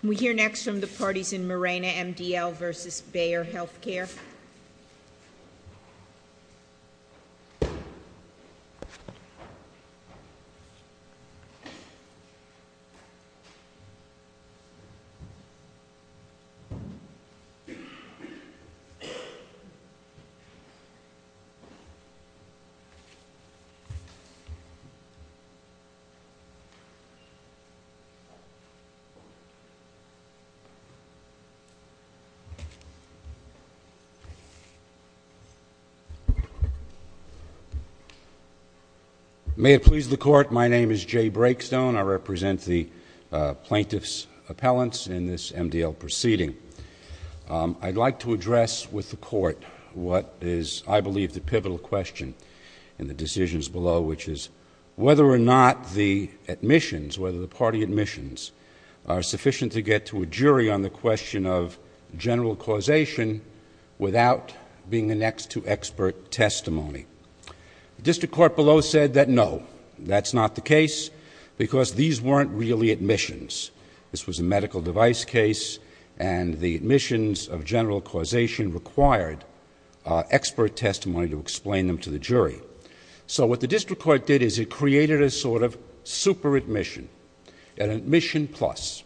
Can we hear next from the parties in Mirena MDL versus Bayer Healthcare? May it please the Court, my name is Jay Brakestone. I represent the plaintiffs' appellants in this MDL proceeding. I'd like to address with the Court what is, I believe, the pivotal question in the decisions below which is whether or not the admissions, whether the party admissions are sufficient to get to a jury on the question of general causation without being annexed to expert testimony. The district court below said that no, that's not the case because these weren't really admissions. This was a medical device case and the admissions of general causation required expert testimony to explain them to the jury. So what the district court did is it created a sort of super admission, an admission plus,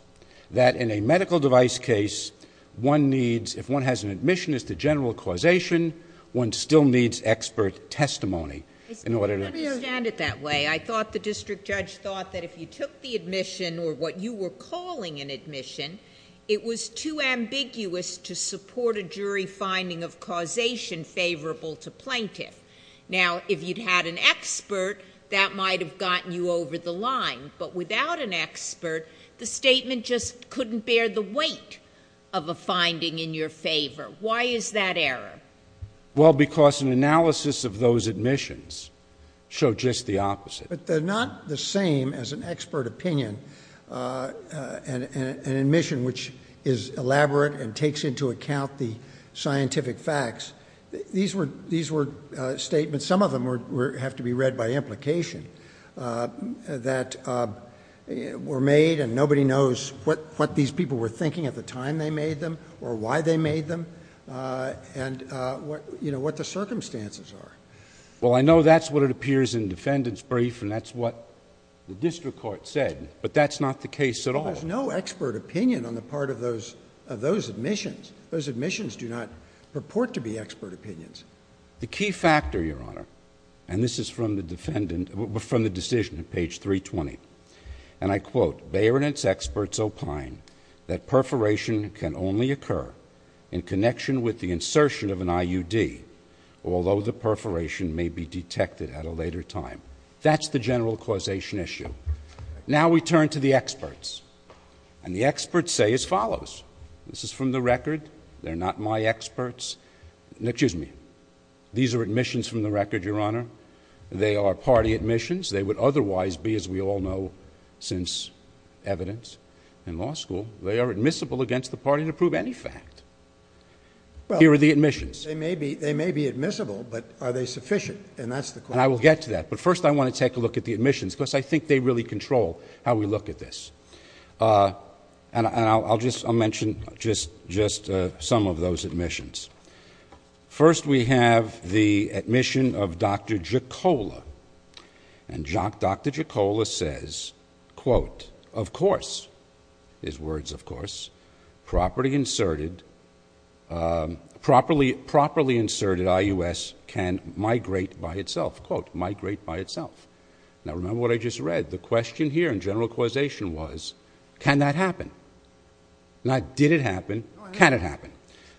that in a medical device case, one needs, if one has an admission as to general causation, one still needs expert testimony in order to... I don't understand it that way. I thought the district judge thought that if you took the admission or what you were calling an admission, it was too ambiguous to support a jury finding of causation favorable to plaintiff. Now, if you'd had an expert, that might have gotten you over the line, but without an expert, the statement just couldn't bear the weight of a finding in your favor. Why is that error? Well, because an analysis of those admissions showed just the opposite. But they're not the same as an expert opinion, an admission which is elaborate and takes into account the scientific facts. These were statements, some of them have to be read by implication, that were made and nobody knows what these people were thinking at the time they made them or why they made them and what the circumstances are. Well, I know that's what it appears in defendant's brief and that's what the district court said, but that's not the case at all. There's no expert opinion on the part of those admissions. Those admissions do not purport to be expert opinions. The key factor, Your Honor, and this is from the decision at page 320, and I quote, Beyer and its experts opine that perforation can only occur in connection with the insertion of an IUD, although the perforation may be detected at a later time. That's the general causation issue. Now we turn to the experts. And the experts say as follows. This is from the record. They're not my experts. Excuse me. These are admissions from the record, Your Honor. They are party admissions. They would otherwise be, as we all know since evidence in law school, they are admissible against the party to prove any fact. Here are the admissions. They may be admissible, but are they sufficient? And that's the question. And I will get to that. But first, I want to take a look at the admissions because I think they really control how we look at this. And I'll just mention just some of those admissions. First, we have the admission of Dr. Jocola. And Dr. Jocola says, quote, of course, his words of course, properly inserted IUS can migrate by itself, quote, migrate by itself. Now remember what I just read. The question here in general causation was, can that happen? Now did it happen? Can it happen?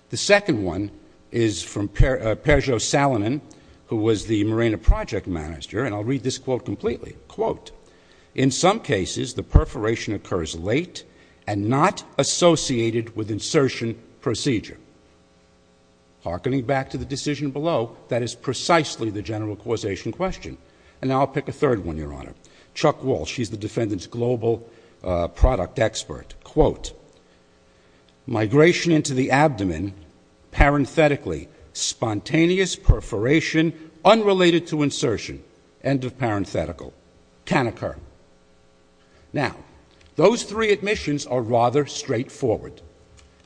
The second one is from Perjo Salonen, who was the Morena project manager. And I'll read this quote completely. Quote, in some cases, the perforation occurs late and not associated with insertion procedure. Harkening back to the decision below, that is precisely the general causation question. And now I'll pick a third one, Your Honor. Chuck Walsh, he's the defendant's global product expert. Quote, migration into the abdomen, parenthetically, spontaneous perforation unrelated to insertion, end of parenthetical, can occur. Now, those three admissions are rather straightforward.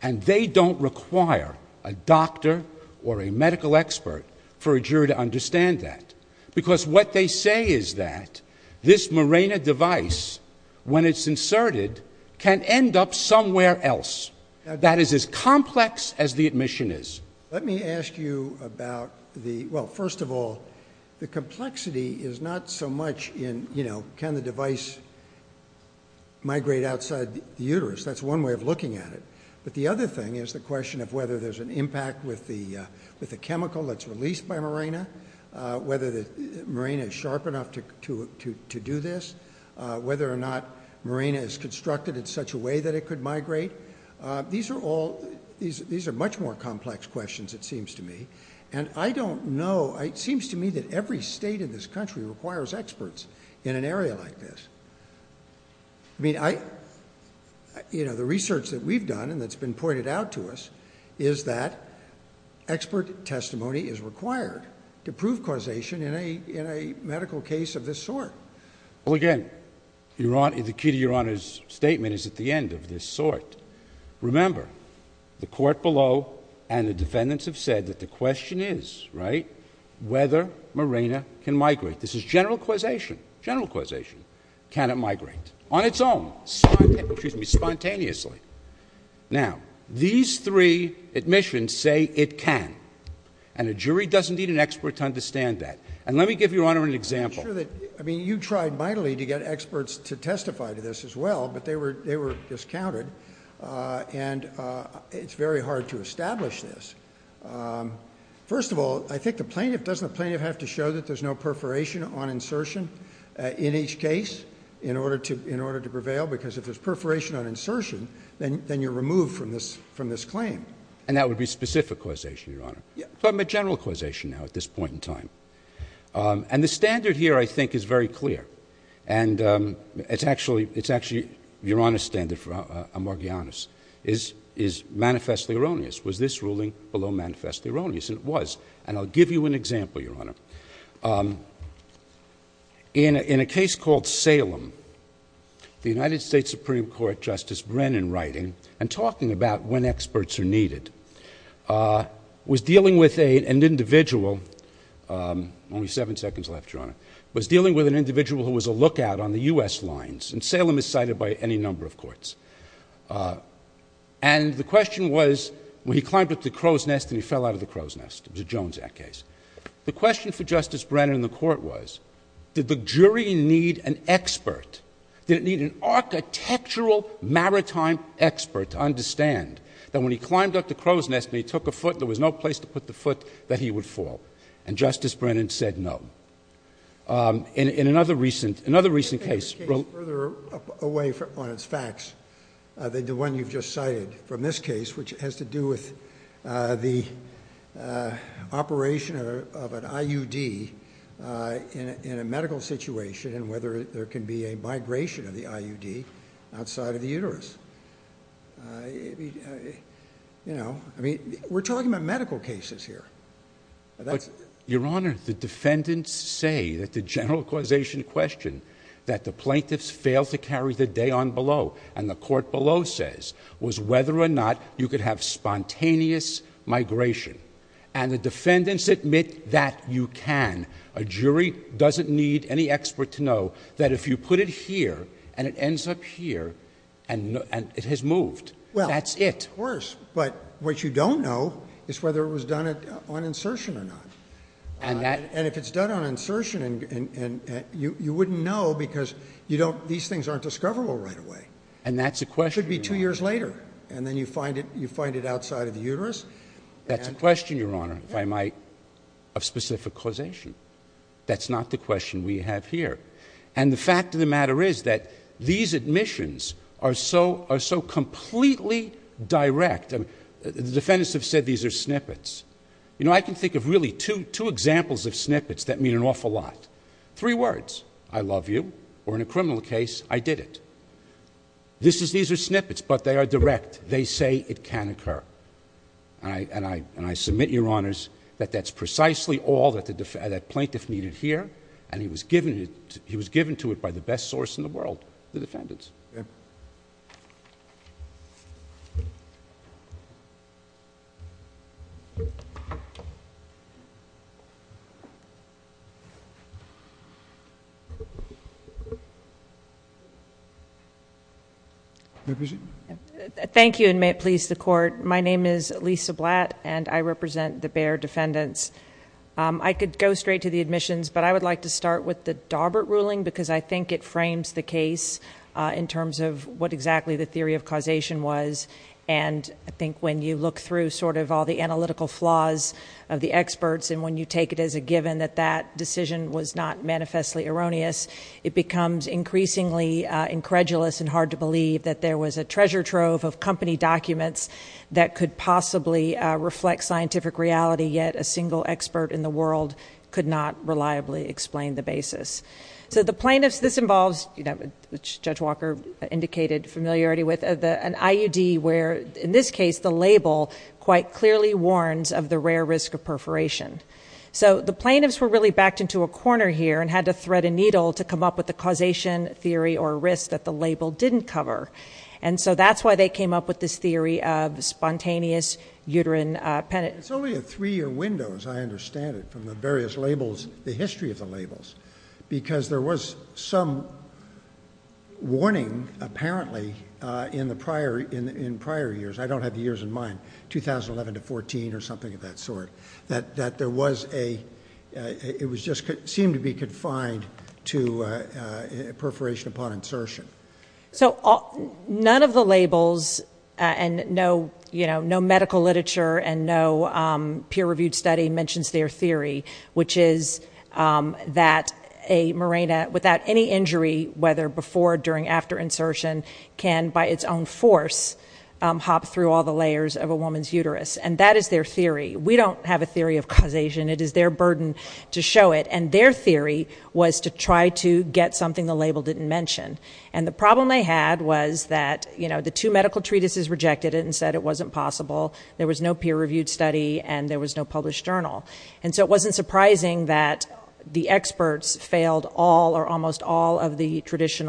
And they don't require a doctor or a medical expert for a jury to understand that. Because what they say is that this Morena device, when it's inserted, can end up somewhere else, that is as complex as the admission is. Let me ask you about the, well, first of all, the complexity is not so much in, you know, can the device migrate outside the uterus? That's one way of looking at it. But the other thing is the question of whether there's an impact with the, with the chemical that's released by Morena. Whether the Morena is sharp enough to, to, to, to do this. Whether or not Morena is constructed in such a way that it could migrate. These are all, these, these are much more complex questions, it seems to me. And I don't know, it seems to me that every state in this country requires experts in an area like this. I mean, I, you know, the research that we've done, and that's been pointed out to us, is that expert testimony is required to prove causation in a, in a medical case of this sort. Well, again, your Honor, the key to your Honor's statement is at the end of this sort. Remember, the court below and the defendants have said that the question is, right? Whether Morena can migrate. This is general causation. General causation. Can it migrate? On its own. Spontane, excuse me, spontaneously. Now, these three admissions say it can. And a jury doesn't need an expert to understand that. And let me give your Honor an example. I'm not sure that, I mean, you tried mightily to get experts to testify to this as well, but they were, they were discounted and it's very hard to establish this. First of all, I think the plaintiff, doesn't the plaintiff have to show that there's no perforation on insertion in each case in order to, in order to prevail? Because if there's perforation on insertion, then, then you're removed from this, from this claim. And that would be specific causation, your Honor. Yeah. Talking about general causation now at this point in time. And the standard here, I think, is very clear. And it's actually, it's actually, your Honor's standard for Amorgianis is, is manifestly erroneous. Was this ruling below manifestly erroneous? And it was. And I'll give you an example, your Honor. Um, in a, in a case called Salem, the United States Supreme Court, Justice Brennan writing and talking about when experts are needed, uh, was dealing with a, an individual, um, only seven seconds left, your Honor, was dealing with an individual who was a lookout on the U.S. lines and Salem is cited by any number of courts. Uh, and the question was when he climbed up the crow's nest and he fell out of the crow's nest, it was a Jones Act case. The question for Justice Brennan in the court was, did the jury need an expert? Did it need an architectural maritime expert to understand that when he climbed up the crow's nest and he took a foot, there was no place to put the foot that he would fall? And Justice Brennan said, no. Um, in, in another recent, another recent case. Further away from, on its facts, uh, than the one you've just cited from this case, which has to do with, uh, the, uh, operation of an IUD, uh, in, in a medical situation and whether there can be a migration of the IUD outside of the uterus, uh, you know, I mean, we're talking about medical cases here. That's your Honor. The defendants say that the general causation question that the plaintiffs fail to carry the day on below and the court below says was whether or not you could have spontaneous migration and the defendants admit that you can. A jury doesn't need any expert to know that if you put it here and it ends up here and, and it has moved, that's it. Worse, but what you don't know is whether it was done on insertion or not. And that, and if it's done on insertion and, and, and you, you wouldn't know because you don't, these things aren't discoverable right away and that's a question, it should be two years later and then you find it, you find it outside of the uterus. That's a question, your Honor, if I might, of specific causation. That's not the question we have here. And the fact of the matter is that these admissions are so, are so completely direct and the defendants have said, these are snippets. You know, I can think of really two, two examples of snippets that mean an awful lot, three words, I love you, or in a criminal case, I did it. This is, these are snippets, but they are direct. They say it can occur. I, and I, and I submit your Honors that that's precisely all that the, that plaintiff needed here and he was given it, he was given to it by the best source in the world, the defendants. Thank you and may it please the court. My name is Lisa Blatt and I represent the Bayer defendants. Um, I could go straight to the admissions, but I would like to start with the Daubert ruling because I think it frames the case, uh, in terms of what exactly the theory of causation was. And I think when you look through sort of all the analytical flaws of the experts it becomes increasingly, uh, incredulous and hard to believe that there was a treasure trove of company documents that could possibly, uh, reflect scientific reality, yet a single expert in the world could not reliably explain the basis. So the plaintiffs, this involves, you know, Judge Walker indicated familiarity with the, an IUD where in this case, the label quite clearly warns of the rare risk of perforation. So the plaintiffs were really backed into a corner here and had to thread a needle to come up with the causation theory or risks that the label didn't cover. And so that's why they came up with this theory of spontaneous uterine penance. It's only a three year windows. I understand it from the various labels, the history of the labels, because there was some warning apparently, uh, in the prior, in, in prior years, I don't have the years in mind, 2011 to 14 or something of that sort that, that there was a, uh, it was just seemed to be confined to, uh, uh, perforation upon insertion. So none of the labels and no, you know, no medical literature and no, um, peer reviewed study mentions their theory, which is, um, that a Mirena without any injury, whether before, during, after insertion can by its own force, um, hop through all the layers of a woman's uterus. And that is their theory. We don't have a theory of causation. It is their burden to show it. And their theory was to try to get something the label didn't mention. And the problem they had was that, you know, the two medical treatises rejected it and said it wasn't possible. There was no peer reviewed study and there was no published journal. And so it wasn't surprising that the experts failed all or almost all of the litany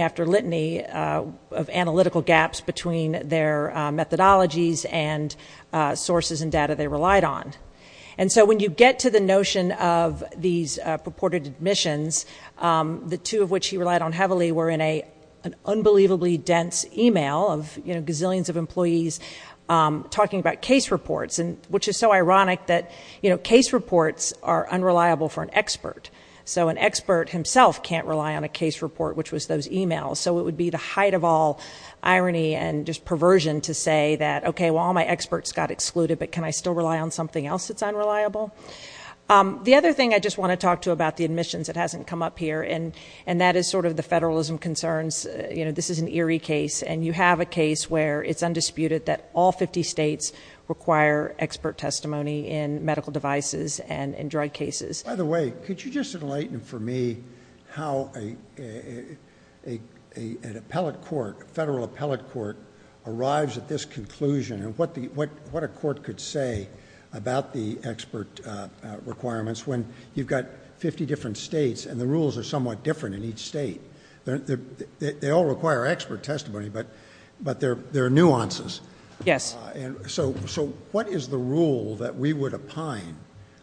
after litany, uh, of analytical gaps between their, uh, methodologies and, uh, sources and data they relied on. And so when you get to the notion of these purported admissions, um, the two of which he relied on heavily were in a, an unbelievably dense email of, you know, gazillions of employees, um, talking about case reports and which is so ironic that, you know, case reports are unreliable for an expert. So an expert himself can't rely on a case report, which was those emails. So it would be the height of all irony and just perversion to say that, okay, well, all my experts got excluded, but can I still rely on something else? It's unreliable. Um, the other thing I just want to talk to about the admissions that hasn't come up here and, and that is sort of the federalism concerns, you know, this is an eerie case and you have a case where it's undisputed that all 50 states require expert testimony in medical devices and in drug cases. By the way, could you just enlighten for me how a, a, a, a, an appellate court, a federal appellate court arrives at this conclusion and what the, what, what a court could say about the expert, uh, uh, requirements when you've got 50 different states and the rules are somewhat different in each state. They're, they're, they all require expert testimony, but, but there, there are nuances. Yes. And so, so what is the rule that we would opine?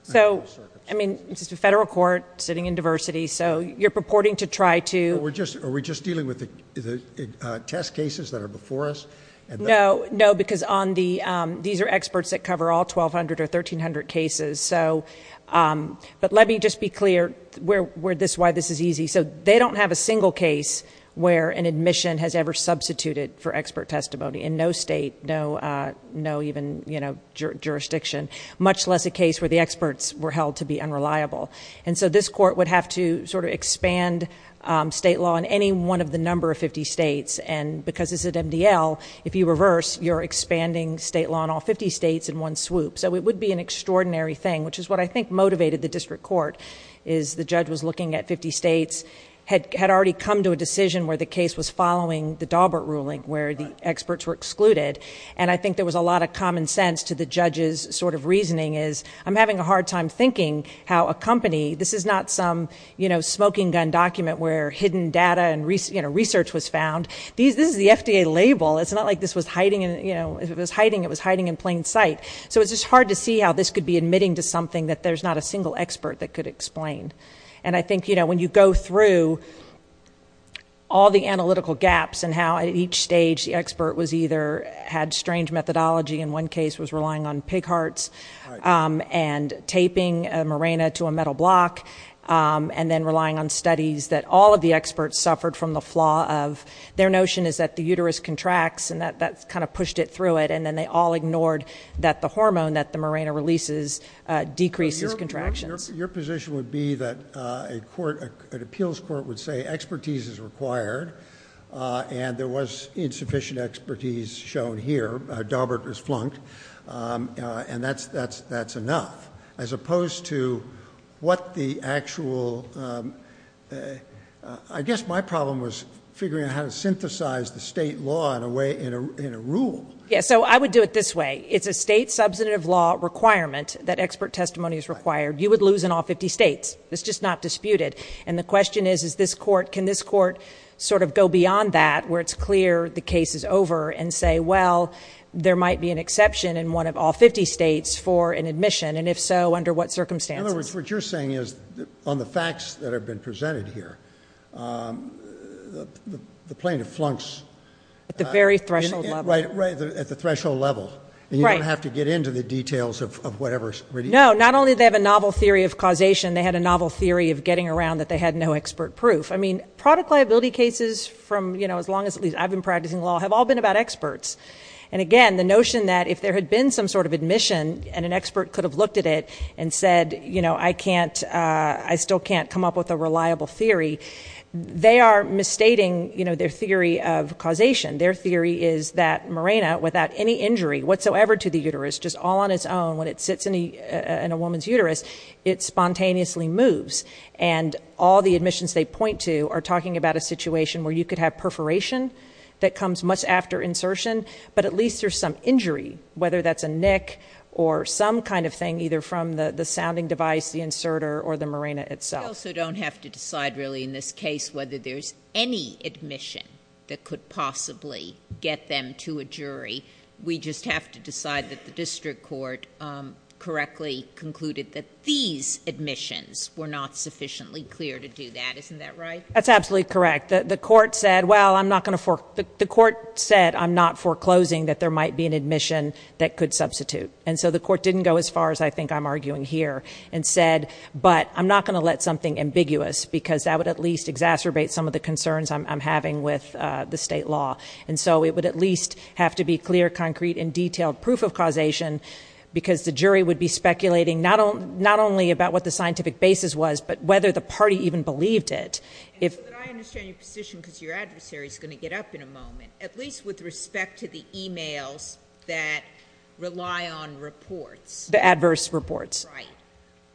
So, I mean, it's just a federal court sitting in diversity. So you're purporting to try to... We're just, are we just dealing with the test cases that are before us? No, no, because on the, um, these are experts that cover all 1200 or 1300 cases. So, um, but let me just be clear where, where this, why this is easy. So they don't have a single case where an admission has ever substituted for expert testimony in no state, no, uh, no, even, you know, jurisdiction, much less a case where the experts were held to be unreliable. And so this court would have to sort of expand, um, state law in any one of the number of 50 states. And because it's at MDL, if you reverse, you're expanding state law in all 50 states in one swoop. So it would be an extraordinary thing, which is what I think motivated the district court is the judge was looking at 50 states, had, had already come to a decision where the case was following the Daubert ruling where the experts were excluded, and I think there was a lot of common sense to the judge's sort of reasoning is I'm having a hard time thinking how a company, this is not some, you know, smoking gun document where hidden data and research was found. These, this is the FDA label. It's not like this was hiding in, you know, it was hiding, it was hiding in plain sight. So it's just hard to see how this could be admitting to something that there's not a single expert that could explain. And I think, you know, when you go through all the analytical gaps and how at each stage the expert was either had strange methodology in one case was relying on pig hearts, um, and taping a Mirena to a metal block. Um, and then relying on studies that all of the experts suffered from the flaw of their notion is that the uterus contracts and that that's kind of pushed it through it. And then they all ignored that the hormone that the Mirena releases, uh, decreases contractions. Your position would be that, uh, a court, an appeals court would say expertise is required, uh, and there was insufficient expertise shown here. Uh, Daubert was flunked. Um, uh, and that's, that's, that's enough as opposed to what the actual, um, uh, uh, I guess my problem was figuring out how to synthesize the state law in a way, in a, in a rule. Yeah. So I would do it this way. It's a state substantive law requirement that expert testimony is required. You would lose in all 50 States. It's just not disputed. And the question is, is this court, can this court sort of go beyond that where it's clear the case is over and say, well, there might be an exception in one of all 50 States for an admission. And if so, under what circumstances you're saying is on the facts that have been presented here, um, the, the plaintiff flunks at the very threshold level, right? Right. The, at the threshold level, you don't have to get into the details of whatever, no, not only they have a novel theory of causation. They had a novel theory of getting around that they had no expert proof. I mean, product liability cases from, you know, as long as at least I've been practicing law have all been about experts. And again, the notion that if there had been some sort of admission and an expert could have looked at it and said, you know, I can't, uh, I still can't come up with a reliable theory. They are misstating, you know, their theory of causation. Their theory is that Mirena without any injury whatsoever to the uterus, just all on its own, when it sits in the, uh, in a woman's uterus, it spontaneously moves and all the admissions they point to are talking about a situation where you could have perforation that comes much after insertion, but at least there's some injury, whether that's a neck or some kind of thing, either from the, the sounding device, the inserter or the Mirena itself. So don't have to decide really in this case, whether there's any admission that could possibly get them to a jury. We just have to decide that the district court, um, correctly concluded that these admissions were not sufficiently clear to do that. Isn't that right? That's absolutely correct. The court said, well, I'm not going to for the court said, I'm not foreclosing that there might be an admission that could substitute. And so the court didn't go as far as I think I'm arguing here and said, but I'm not going to let something ambiguous because that would at least exacerbate some of the concerns I'm having with the state law. And so it would at least have to be clear, concrete and detailed proof of because the jury would be speculating. Not all, not only about what the scientific basis was, but whether the party even believed it. If I understand your position, because your adversary is going to get up in a moment, at least with respect to the emails that rely on reports, the adverse reports,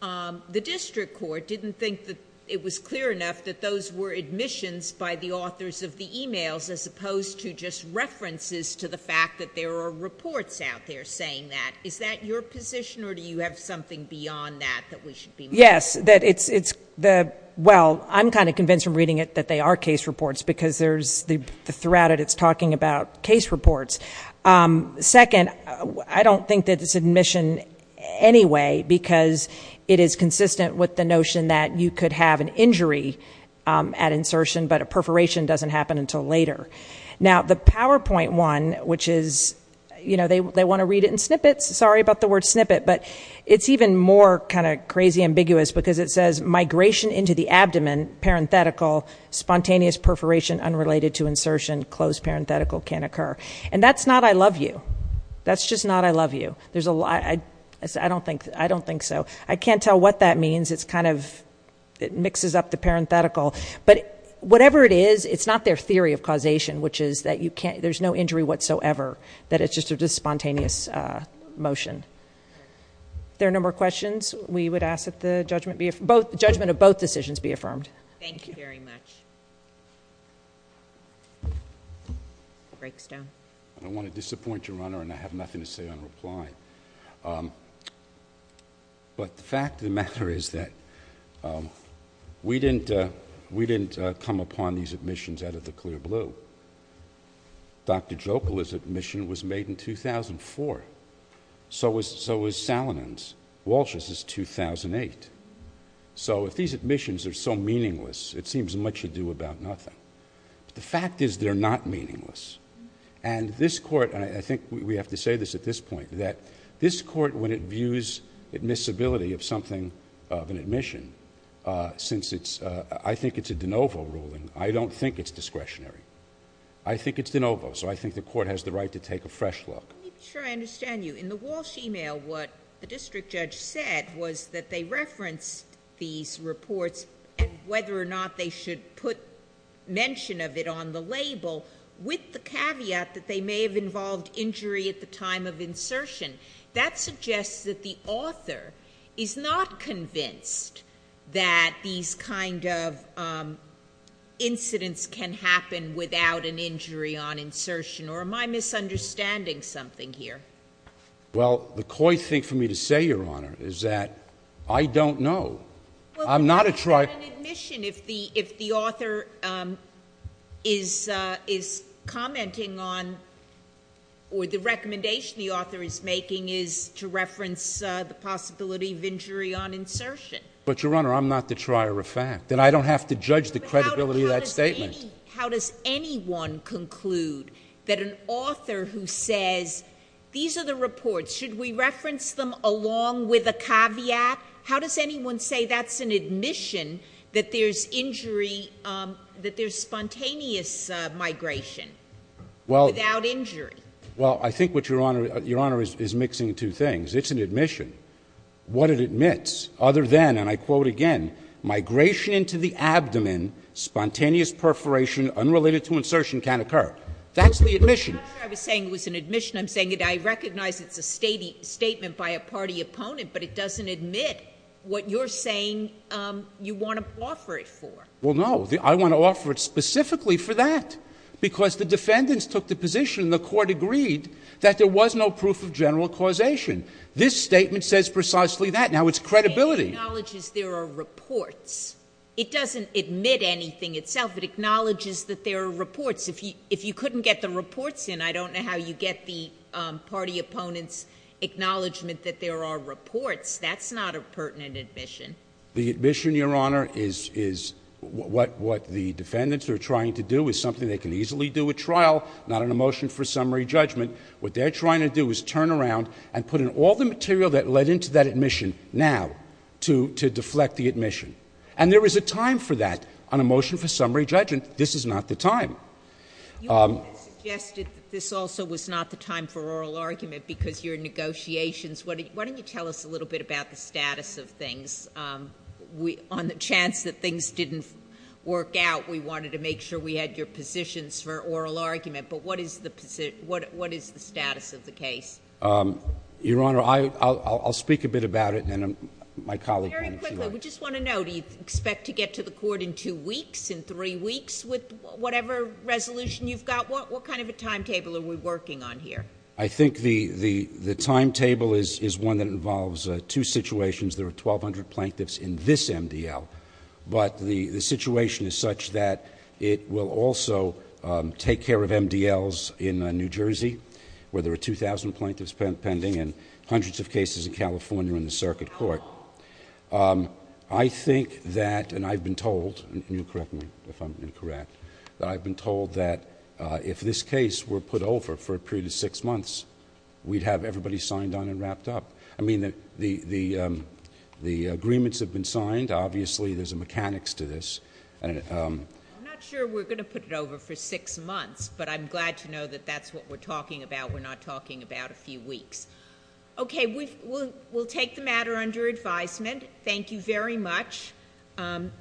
um, the district court didn't think that it was clear enough that those were admissions by the authors of the emails, as opposed to just references to the fact that there are reports out there saying that, is that your position or do you have something beyond that, that we should be? Yes, that it's, it's the, well, I'm kind of convinced from reading it that they are case reports because there's the, throughout it, it's talking about case reports. Um, second, I don't think that it's admission anyway, because it is consistent with the notion that you could have an injury, um, at insertion, but a perforation doesn't happen until later. Now the PowerPoint one, which is, you know, they, they want to read it in snippets, sorry about the word snippet, but it's even more kind of crazy ambiguous because it says migration into the abdomen, parenthetical, spontaneous perforation, unrelated to insertion, close parenthetical can occur. And that's not, I love you. That's just not, I love you. There's a lot. I, I don't think, I don't think so. I can't tell what that means. It's kind of, it mixes up the parenthetical, but whatever it is, it's not their theory of causation, which is that you can't, there's no injury whatsoever, that it's just a, just spontaneous, uh, motion. There are a number of questions we would ask that the judgment be, both judgment of both decisions be affirmed. Thank you very much. Break's down. I don't want to disappoint your honor and I have nothing to say on reply. Um, but the fact of the matter is that, um, we didn't, uh, we didn't, uh, come upon these admissions out of the clear blue, Dr. Joplin's admission was made in 2004. So was, so was Salonen's, Walsh's is 2008. So if these admissions are so meaningless, it seems much ado about nothing. The fact is they're not meaningless. And this court, and I think we have to say this at this point, that this court, when it views admissibility of something of an admission, uh, since it's, uh, I don't think it's discretionary. I think it's de novo. So I think the court has the right to take a fresh look. Let me be sure I understand you. In the Walsh email, what the district judge said was that they referenced these reports and whether or not they should put mention of it on the label with the caveat that they may have involved injury at the time of insertion. That suggests that the author is not convinced that these kind of, um, incidents can happen without an injury on insertion or am I misunderstanding something here? Well, the coy thing for me to say, your honor, is that I don't know. I'm not a try. If the, if the author, um, is, uh, is commenting on or the recommendation the author is making is to reference, uh, the possibility of injury on insertion. But your honor, I'm not the trier of fact that I don't have to judge the credibility of that statement. How does anyone conclude that an author who says, these are the reports, should we reference them along with a caveat? How does anyone say that's an admission that there's injury, um, that there's spontaneous, uh, migration without injury? Well, I think what your honor, your honor is mixing two things. It's an admission. What it admits other than, and I quote again, migration into the abdomen, spontaneous perforation, unrelated to insertion can occur. That's the admission. I was saying it was an admission. I'm saying it, I recognize it's a state statement by a party opponent, but it doesn't admit what you're saying. Um, you want to offer it for, well, no, I want to offer it specifically for that because the defendants took the position, the court agreed that there was no proof of general causation. This statement says precisely that now it's credibility. Acknowledges there are reports. It doesn't admit anything itself. It acknowledges that there are reports. If you, if you couldn't get the reports in, I don't know how you get the, um, party opponents acknowledgement that there are reports. That's not a pertinent admission. The admission your honor is, is what, what the defendants are trying to do is something they can easily do a trial, not an emotion for summary judgment. What they're trying to do is turn around and put in all the material that led into that admission now to, to deflect the admission, and there was a time for that on a motion for summary judgment. This is not the time. Um, this also was not the time for oral argument because you're in negotiations. What did, why don't you tell us a little bit about the status of things? Um, we, on the chance that things didn't work out, we wanted to make sure we what is the status of the case? Um, your honor, I I'll, I'll speak a bit about it. And, um, my colleague, we just want to know, do you expect to get to the court in two weeks in three weeks with whatever resolution you've got? What, what kind of a timetable are we working on here? I think the, the, the timetable is, is one that involves two situations. There are 1200 plaintiffs in this MDL, but the situation is such that it will also, um, take care of MDLs in a New Jersey where there are 2000 plaintiffs pending and hundreds of cases in California in the circuit court. Um, I think that, and I've been told, you correct me if I'm incorrect, that I've been told that, uh, if this case were put over for a period of six months, we'd have everybody signed on and wrapped up. I mean, the, the, um, the agreements have been signed. Obviously there's a mechanics to this. And, um, I'm not sure we're going to put it over for six months, but I'm glad to know that that's what we're talking about. We're not talking about a few weeks. Okay. We will, we'll take the matter under advisement. Thank you very much. Um,